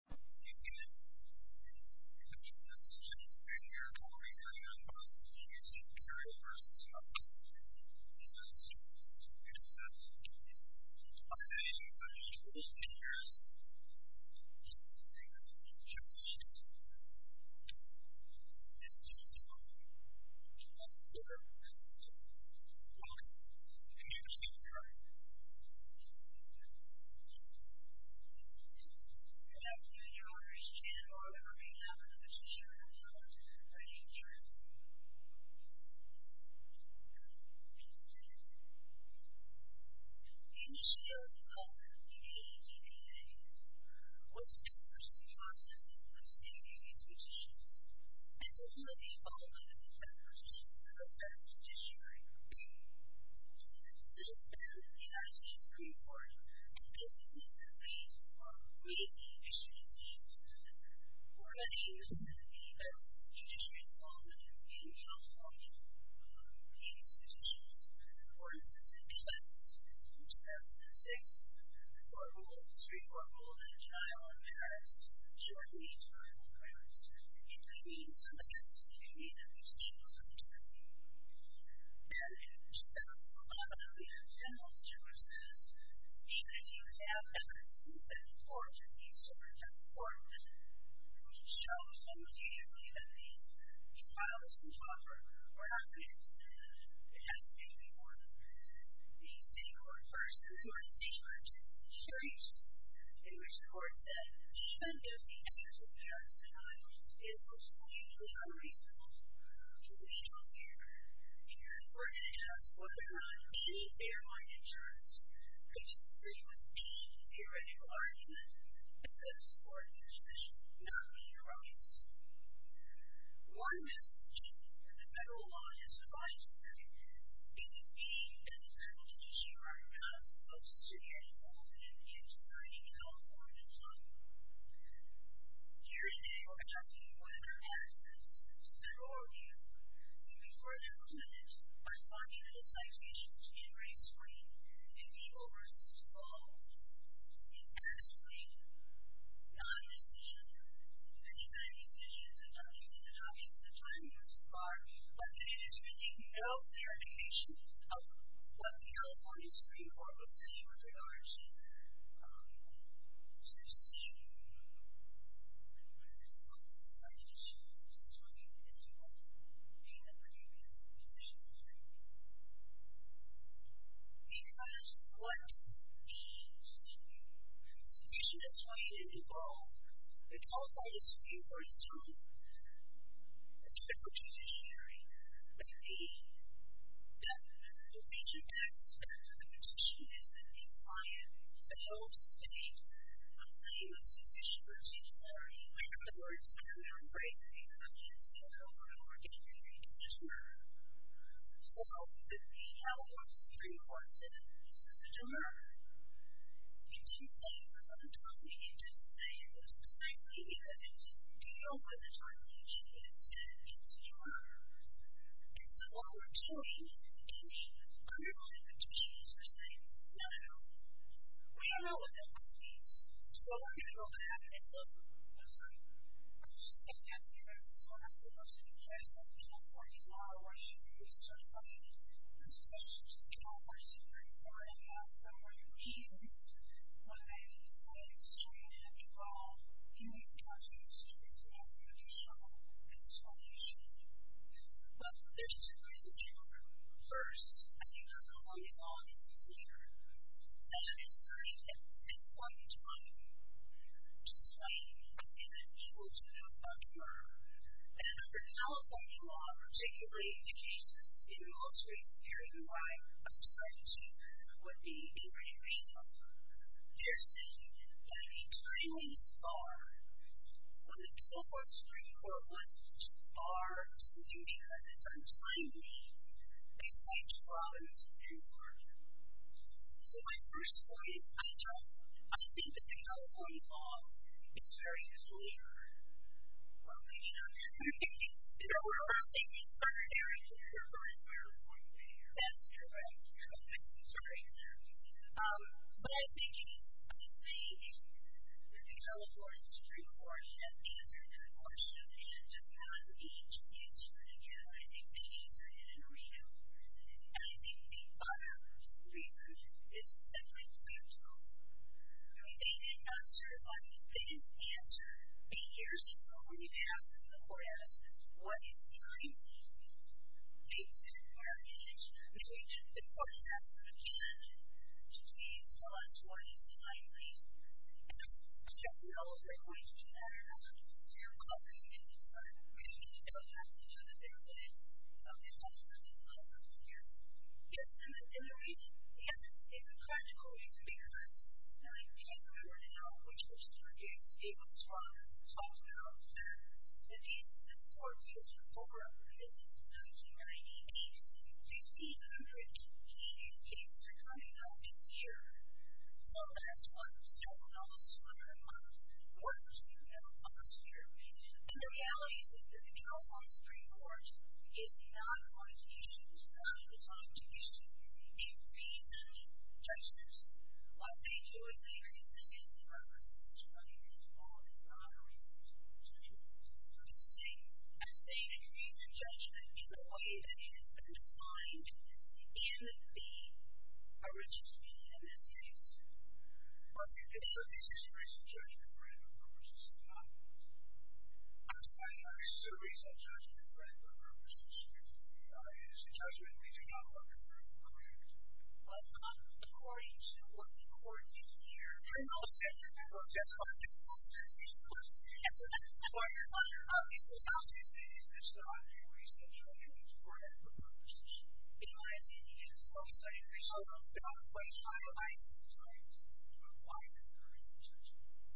Do you see that? That's just a picture of Harvey. And that's just a picture of the person's mouth. And that's just a picture of that. Harvey, when he was 10 years old, he was a very good boy. He was a very good boy. And he was a very good boy. Harvey. Can you just see Harvey? Can you see Harvey? Good afternoon, Your Honor. This is Janet Moore. I'm going to bring out the petitioner, and I'm going to read it to you. The initiative of the public, the ADA, was established in the process of saving these musicians and to limit the involvement of these bad musicians with the federal judiciary. Since then, the United States Supreme Court has consistently made the judiciary's decisions limiting the federal judiciary's involvement in the involvement of these musicians. For instance, in Phoenix, in 2006, the court ruled, the Supreme Court ruled, that a child has short-lived life opportunities. It could mean somebody's conceiving of these people some time. Then, in 2011, the Federal Supreme Court says, even if you have evidence in the federal court, it needs to refer to the court, which shows simultaneously that the child is in favor, or not in favor. It has to be in favor of the state court person who are favored. In which the court said, even if the evidence is completely unreasonable, to the child's ear, because we're going to ask whether or not any fair-minded jurists could disagree with any theoretical argument that supports the decision not to be the right. One message that the federal law has provided to state, is that we, as a federal judiciary, are not supposed to get involved in the indecisive California law. Here today, we're addressing whether or not it makes sense to federal law review to be further limited by finding that a citation between race, creed, and people versus law is absolutely non-decision. And these are decisions that nothing to do with the time that's required. But that it is really no verification of what the California Supreme Court was saying in regards to this decision. What is the role of the citation in determining if anyone may have or may not be in this position today? Because what the citation is trying to involve, the California Supreme Court is doing, as a federal judiciary, with the definition that a citation is an inclined, failed state of the insufficiency or, in other words, that it may not embrace the exemptions of the California Constitution. So how does the California Supreme Court say that this is an error? It didn't say it was untimely. It didn't say it was timely, because it didn't deal with the time that it should have. It said it's an error. And so what we're doing in the criminal institutions is we're saying, no, we know what that means. So we're going to go back and look at what it looks like. I'm just going to ask you guys to talk to the person who just said California law or should be re-certifying it. This question is for the California Supreme Court. I'm going to ask them what it means when they say it's straight and involved in the Constitution. And then I'm going to ask you to tell me what the Constitution is. Well, there's two ways of doing it. First, I think California law is clear that a state at this point in time is a state that isn't able to have a court. And under California law, particularly in the cases in the most recent period in which I'm citing to you, would be a great example, there's a tiny, tiny spark on the Columbus Supreme Court list are, simply because it's untimely, they cite frauds in court. So my first point is I don't think that California law is very clear. OK. You know, I think it's fair to say that California law is very clear. That's correct. OK. Sorry. But I think it's simply that the California Supreme Court has answered that question and does not need to answer it again. I think they answered it in Reno. And I think the other reason is simply because they did not certify it. They didn't answer eight years ago when you asked them in the courthouse, what is time, date, where it is, and age, and what it has to do with age. And please tell us what is time, date, and how it's going to matter. I mean, they're covering it. They don't have to know that they're living in California. They don't have to know that they're living in California. Yes. And the reason is a practical reason, because in the Supreme Court now, which was to reduce stable swaths of time that this court is reporting, this is 1998. 1500 cases are coming out this year. So that's what? Stable swaths of time? What's the real cost here? And the reality is that the California Supreme Court is not going to issue the time. It's not going to issue a reasoning judgment. What they do is they reason it in reference to the fact that this is 1998 law. It's not a reasoning judgment. I'm saying a reasoned judgment in the way that it is defined in the original meaning in this case. But this is a reasoned judgment, right? Of course it's not. I'm sorry? This is a reasoned judgment, right? Of course it's not. It's a judgment we do not want to hear. Well, according to what the court did here, the court said that the number of test subjects was 33,000. And the court said that the number of people tested is such that under a reasoned judgment, we're not going to provide a decision. In my opinion, the court said it's not a question of why it's a reasoned judgment.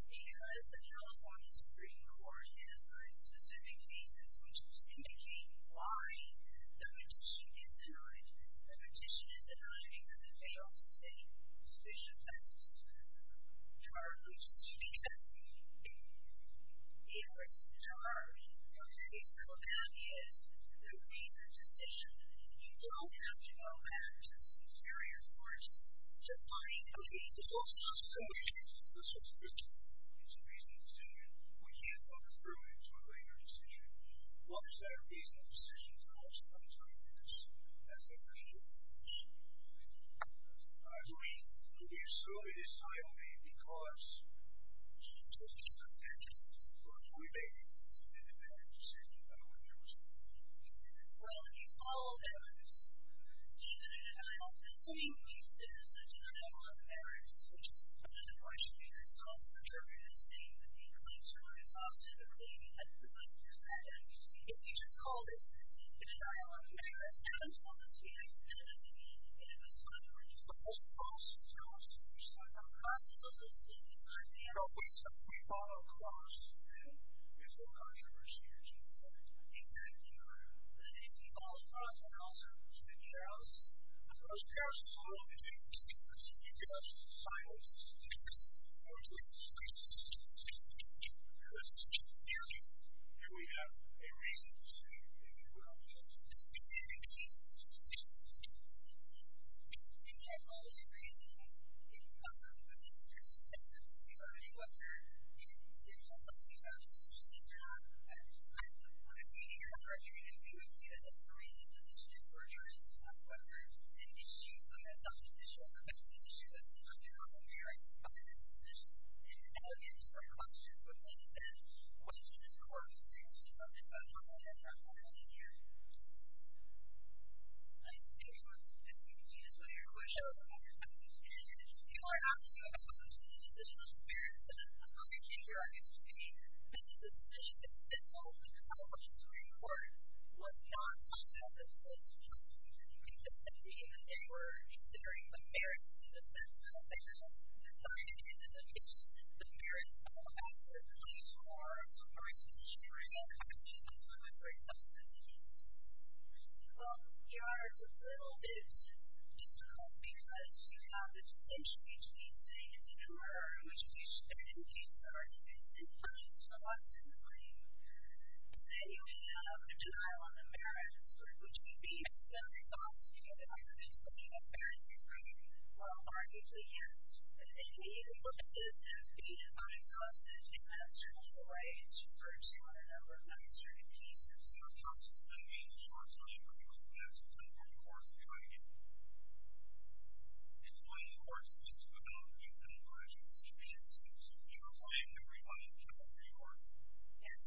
Because the California Supreme Court has a scientific basis which is indicating why the petition is denied. The petition is denied because it fails to state the sufficient facts. It's denied because it's denied. So that is a reasoned decision. You don't have to go back to the superior court to find that it is a reasoned decision. It's a reasoned decision. We can't go through it into a later decision. What is that reasoned decision? It's not a scientific decision. That's a critical issue. Do we assume it is timely because it's a judgment? Or do we make an independent decision about whether it was timely? Well, if you follow evidence, even if I have the same consensus as I have on merits, which is a good question, it's also true that saying that the claims are exhaustive are maybe 100% true. So if you just call this, if I have a lot of merits and I can get 매� earth at times as many, does it mean that at this time it would be more to falsely come up to my conscience. So that imply that the claim is timely. We follow across and what we think is controversial is that if you follow across the house then the question is can you get a final or effective just to get the claim. Do we have a reason to say that we do not? Yes we do. I think that all the reasons in Congress would be interesting and we would be wondering if there's a policy balance to sit down and I don't want to be here and argue that we would be the best reason to sit here for a time and not wonder an issue of a substantial effect, an issue that's mostly not in our interest by this position. I think that's an elegant question but then what does this court say when it comes to a judgment that's not in our interest? I think it would be interesting to see as well your question. You are asking about the judicial experience and I'm not going to change your argument to say that the decision itself in the California Supreme Court was not subject to judicial review. It may be that they were considering the merits of the sentence or that they were deciding in the case the merits of the plea for a restraining action that would bring substance to the case. Well, we are a little bit difficult because you have the distinction between saying it's a murder which we stand in case of it's in plain sight in the brain and then you have the denial on the merits which would be another thought because I think that the merits would be well arguably yes but it may be that the court is being unexhausted in that certain way to pursue a number of uncertain cases. Your counsel said that in the short time that you hold that it's important for us to try again. It's important for us at least for the moment that you've been in charge of this case to try and review what you've come up with. Yes.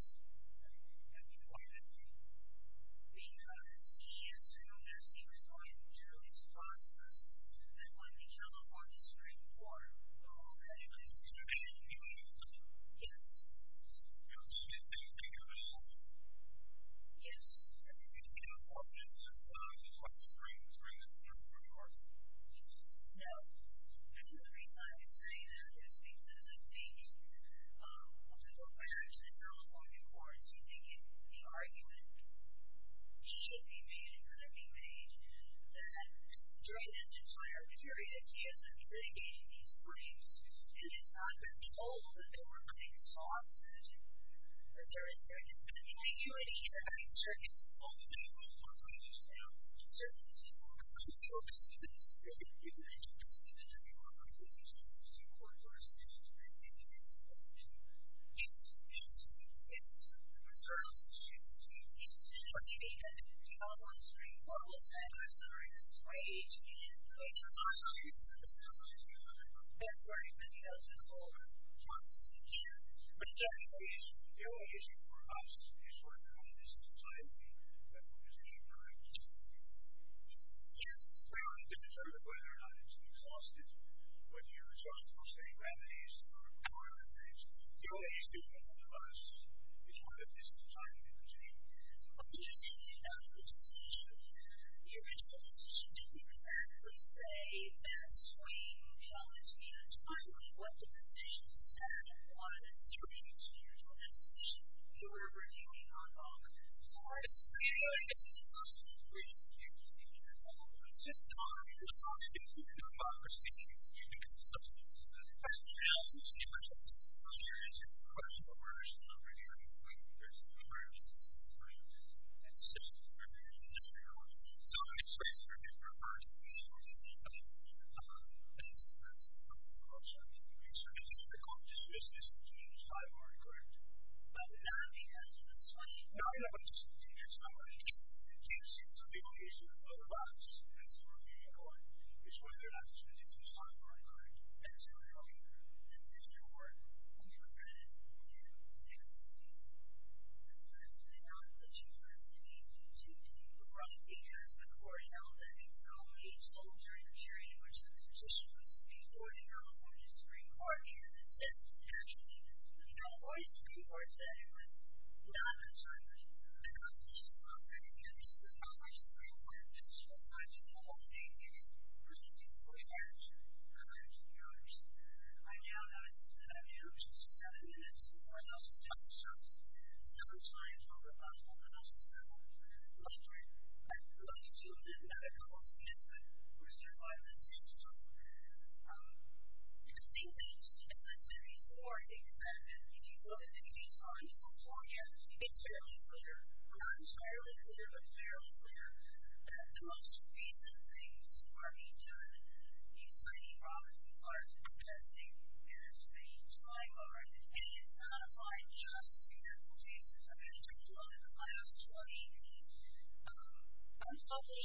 And why is that true? Because he assumed as he was going through this process that when the California Supreme Court ruled that it was discriminating against him. Yes. It was obvious that he was thinking about us. Yes. I think he was thinking about us as he was watching during the Supreme Court course. No. I think the reason I would say that is because I think most of the players in the California court is rethinking the argument should be made and could be made that during this entire period he has been mitigating these claims and has not been told that they were being exhausted. There is an ambiguity and I mean certainly it's also important to understand that certainly some of the folks in the California Supreme Court are going to continue to work with the Supreme Court or the Supreme Court and continue to work with the Supreme Court. It's true. It's true. It's true. It's true. It's true. It's true. I think the problem is that the Supreme Court is saying that there is a great and great opportunity for the California Supreme Court to have very many other court cases in here. But in any case the only issue for us is what kind of distance I am in and that position I am in. Yes. We only determine whether or not it's exhausted or whether you're exhausted for saying bad things or for doing other things. The only issue for the both of us is what distance I am in and that position. Let me just ask you about the decision. The original decision did not exactly say that swing penalty. I believe what the decision said was three years before that decision that you were reviewing our law. So are you saying that the Supreme Court is going to review your law? It's just not it's not going to do democracy it's going to do consensus. And now the Supreme Court has said there is no question of reviewing the Supreme Court there is no question of reviewing the Supreme Court and it's said that the Supreme Court is going to review the Supreme Court. So in the case where you're in reverse the Supreme Court is going to review the law. That's the motion. And so the Supreme Court dismissed this decision by the Supreme Court but now it has to switch now we have to switch and there's no other chance to change so the only issue with both of us as a Supreme Court is whether or not the decision is going to be and that's what we're going to do. That's what we're going to do. And this is your work. And you're going to do exactly the same as what it's been done with the Supreme Court in 1822 and you were running against the court in Alabama and so he told during the period in which the petition was before the California Supreme Court and he said actually the California Supreme Court said it was not a time thing because he was not going to be in the Supreme Court for three or four or five years the whole thing and he was going to be in the Supreme Court for five or two years I now notice that I've been in the Supreme Court for seven minutes and my mouth is jammed shut seven times over a month and I'm not going to be able to say anything I'm going to do another couple of minutes but we're going to survive this interview um I think that in the series four if you look at the case on California it's fairly clear not entirely clear but fairly clear that the most recent things are being done the signing promises are depressing as the time bar is not a fine just in the cases I'm going to take you on the last twenty unpublished files on the Supreme Court of the previous petitions and these are not just the cases these are over petitions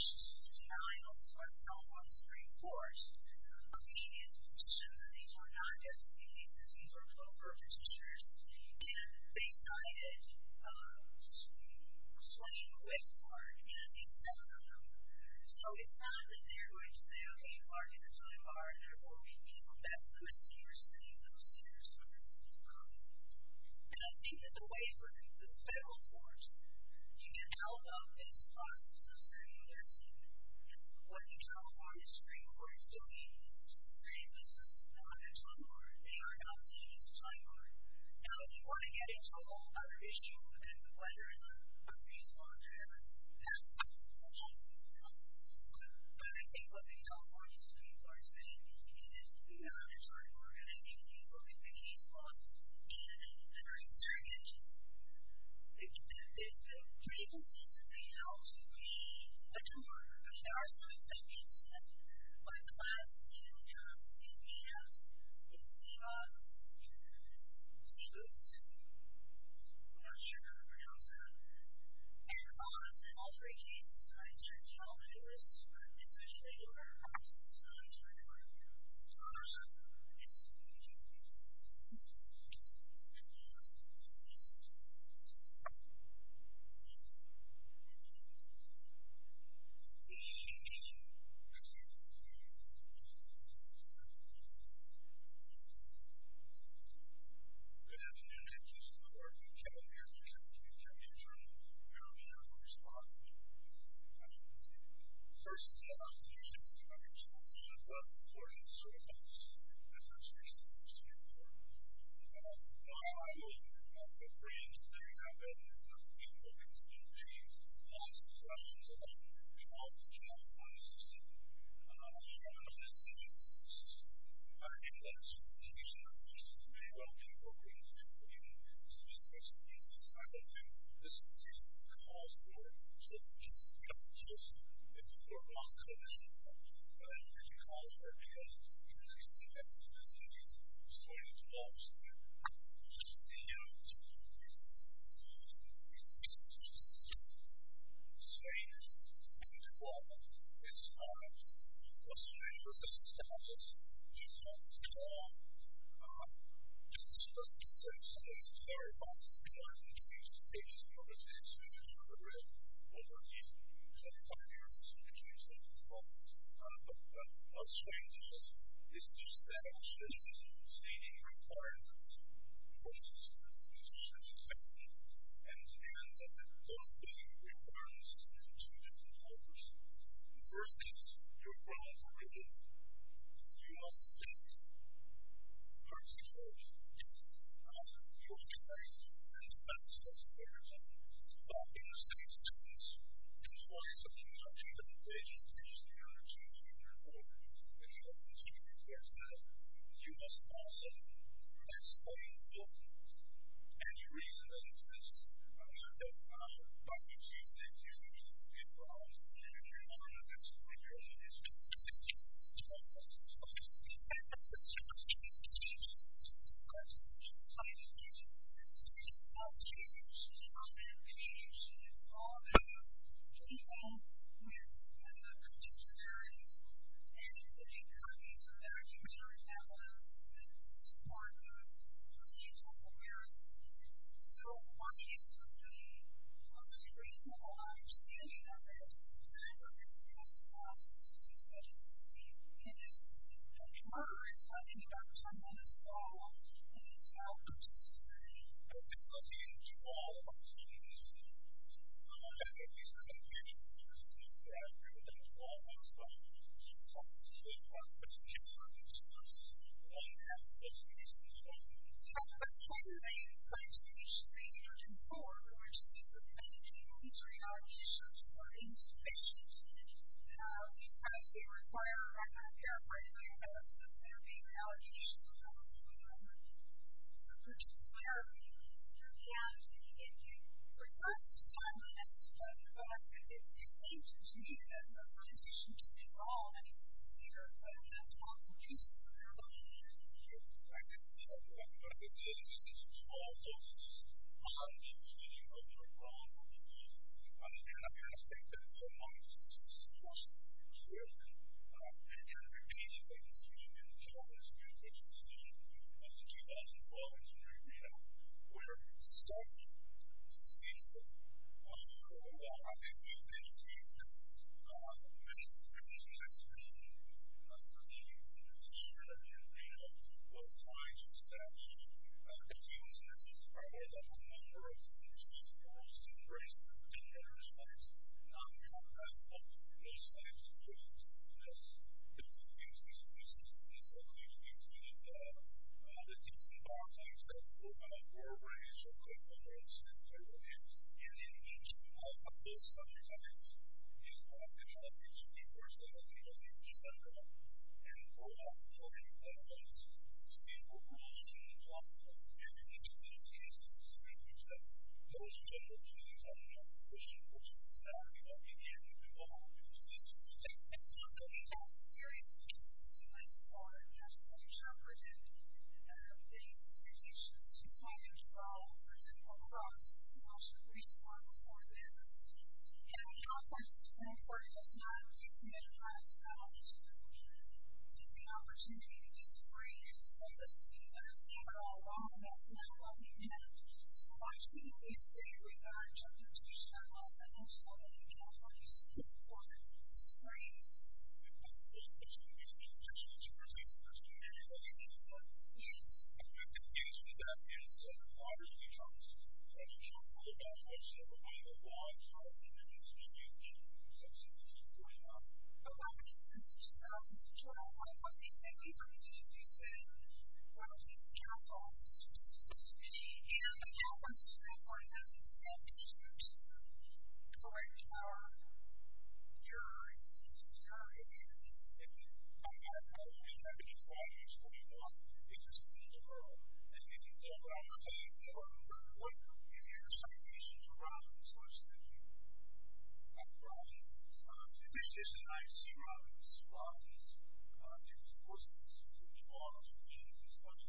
and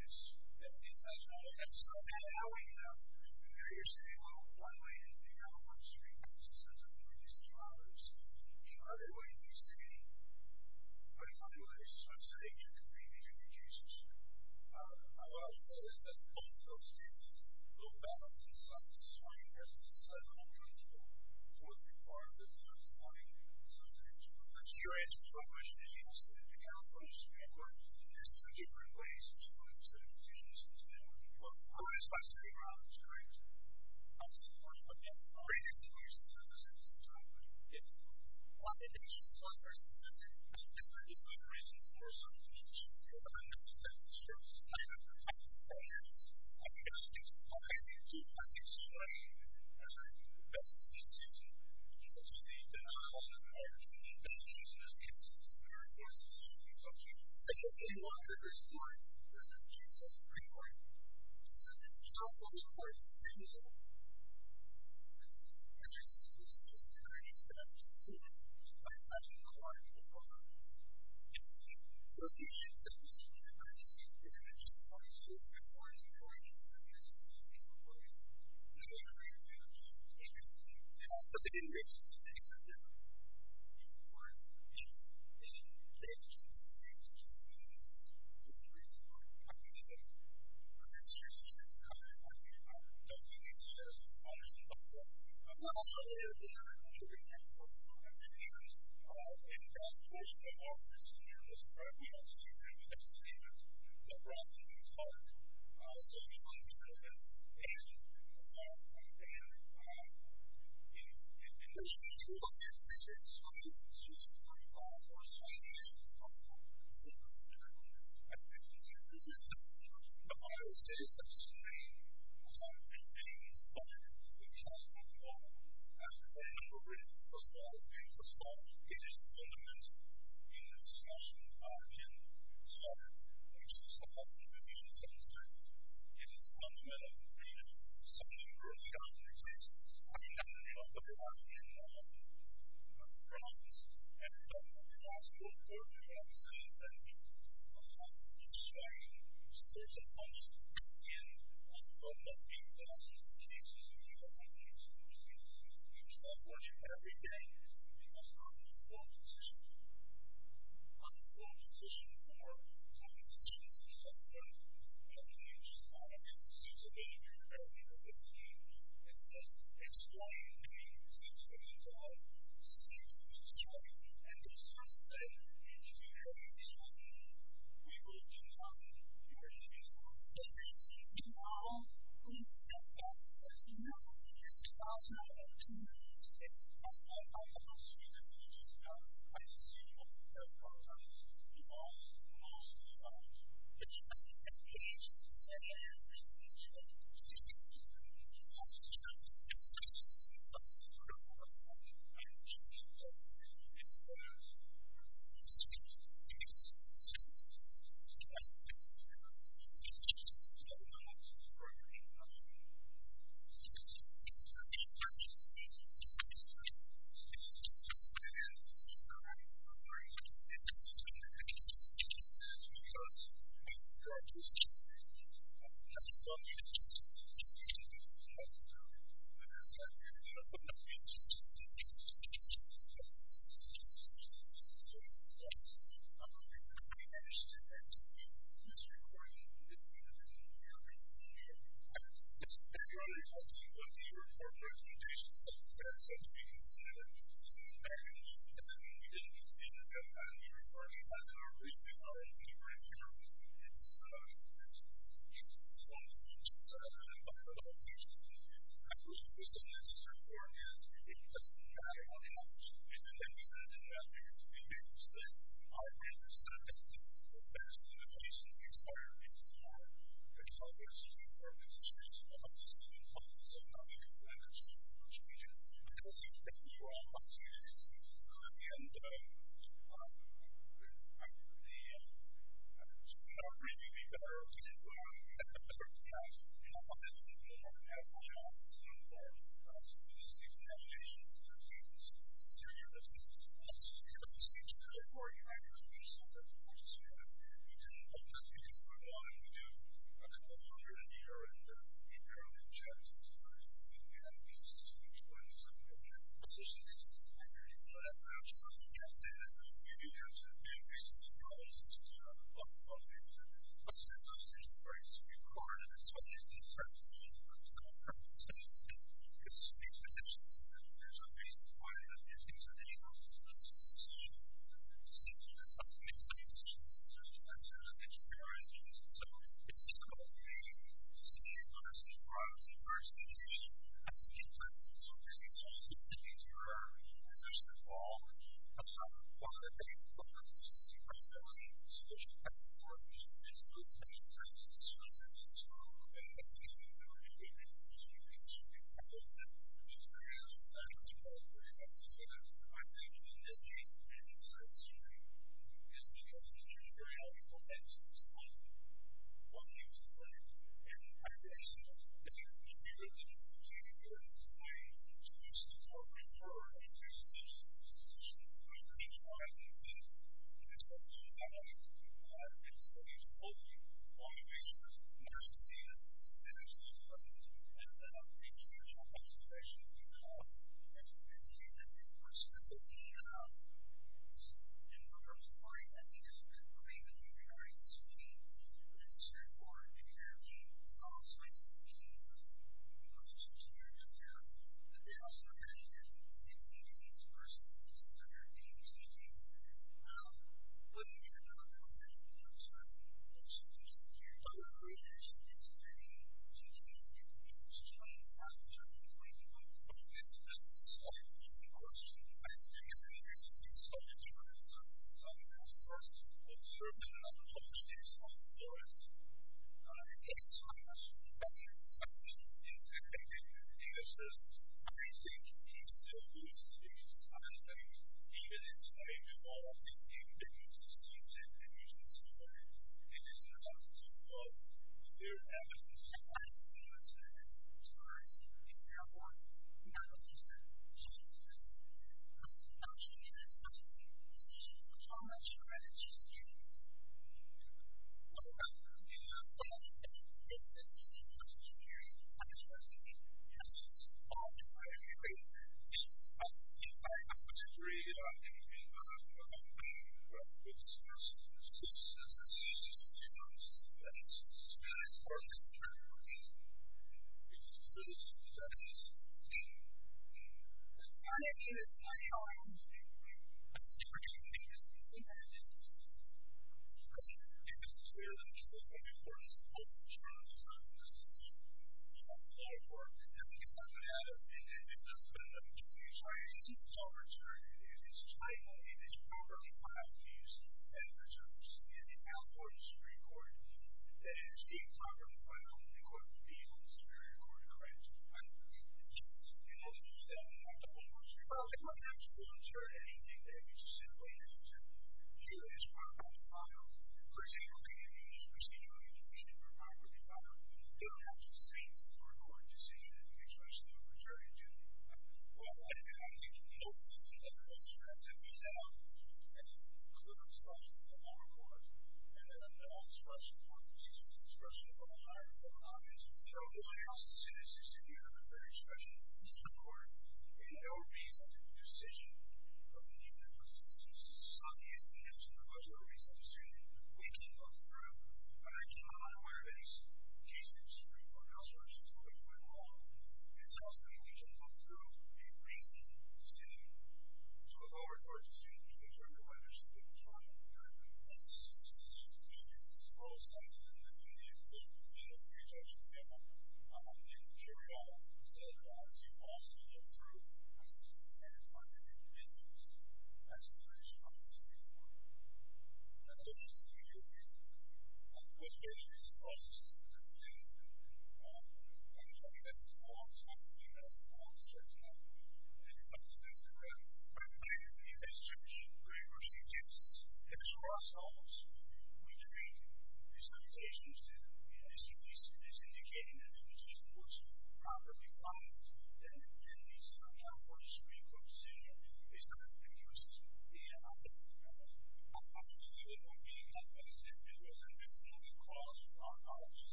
they cited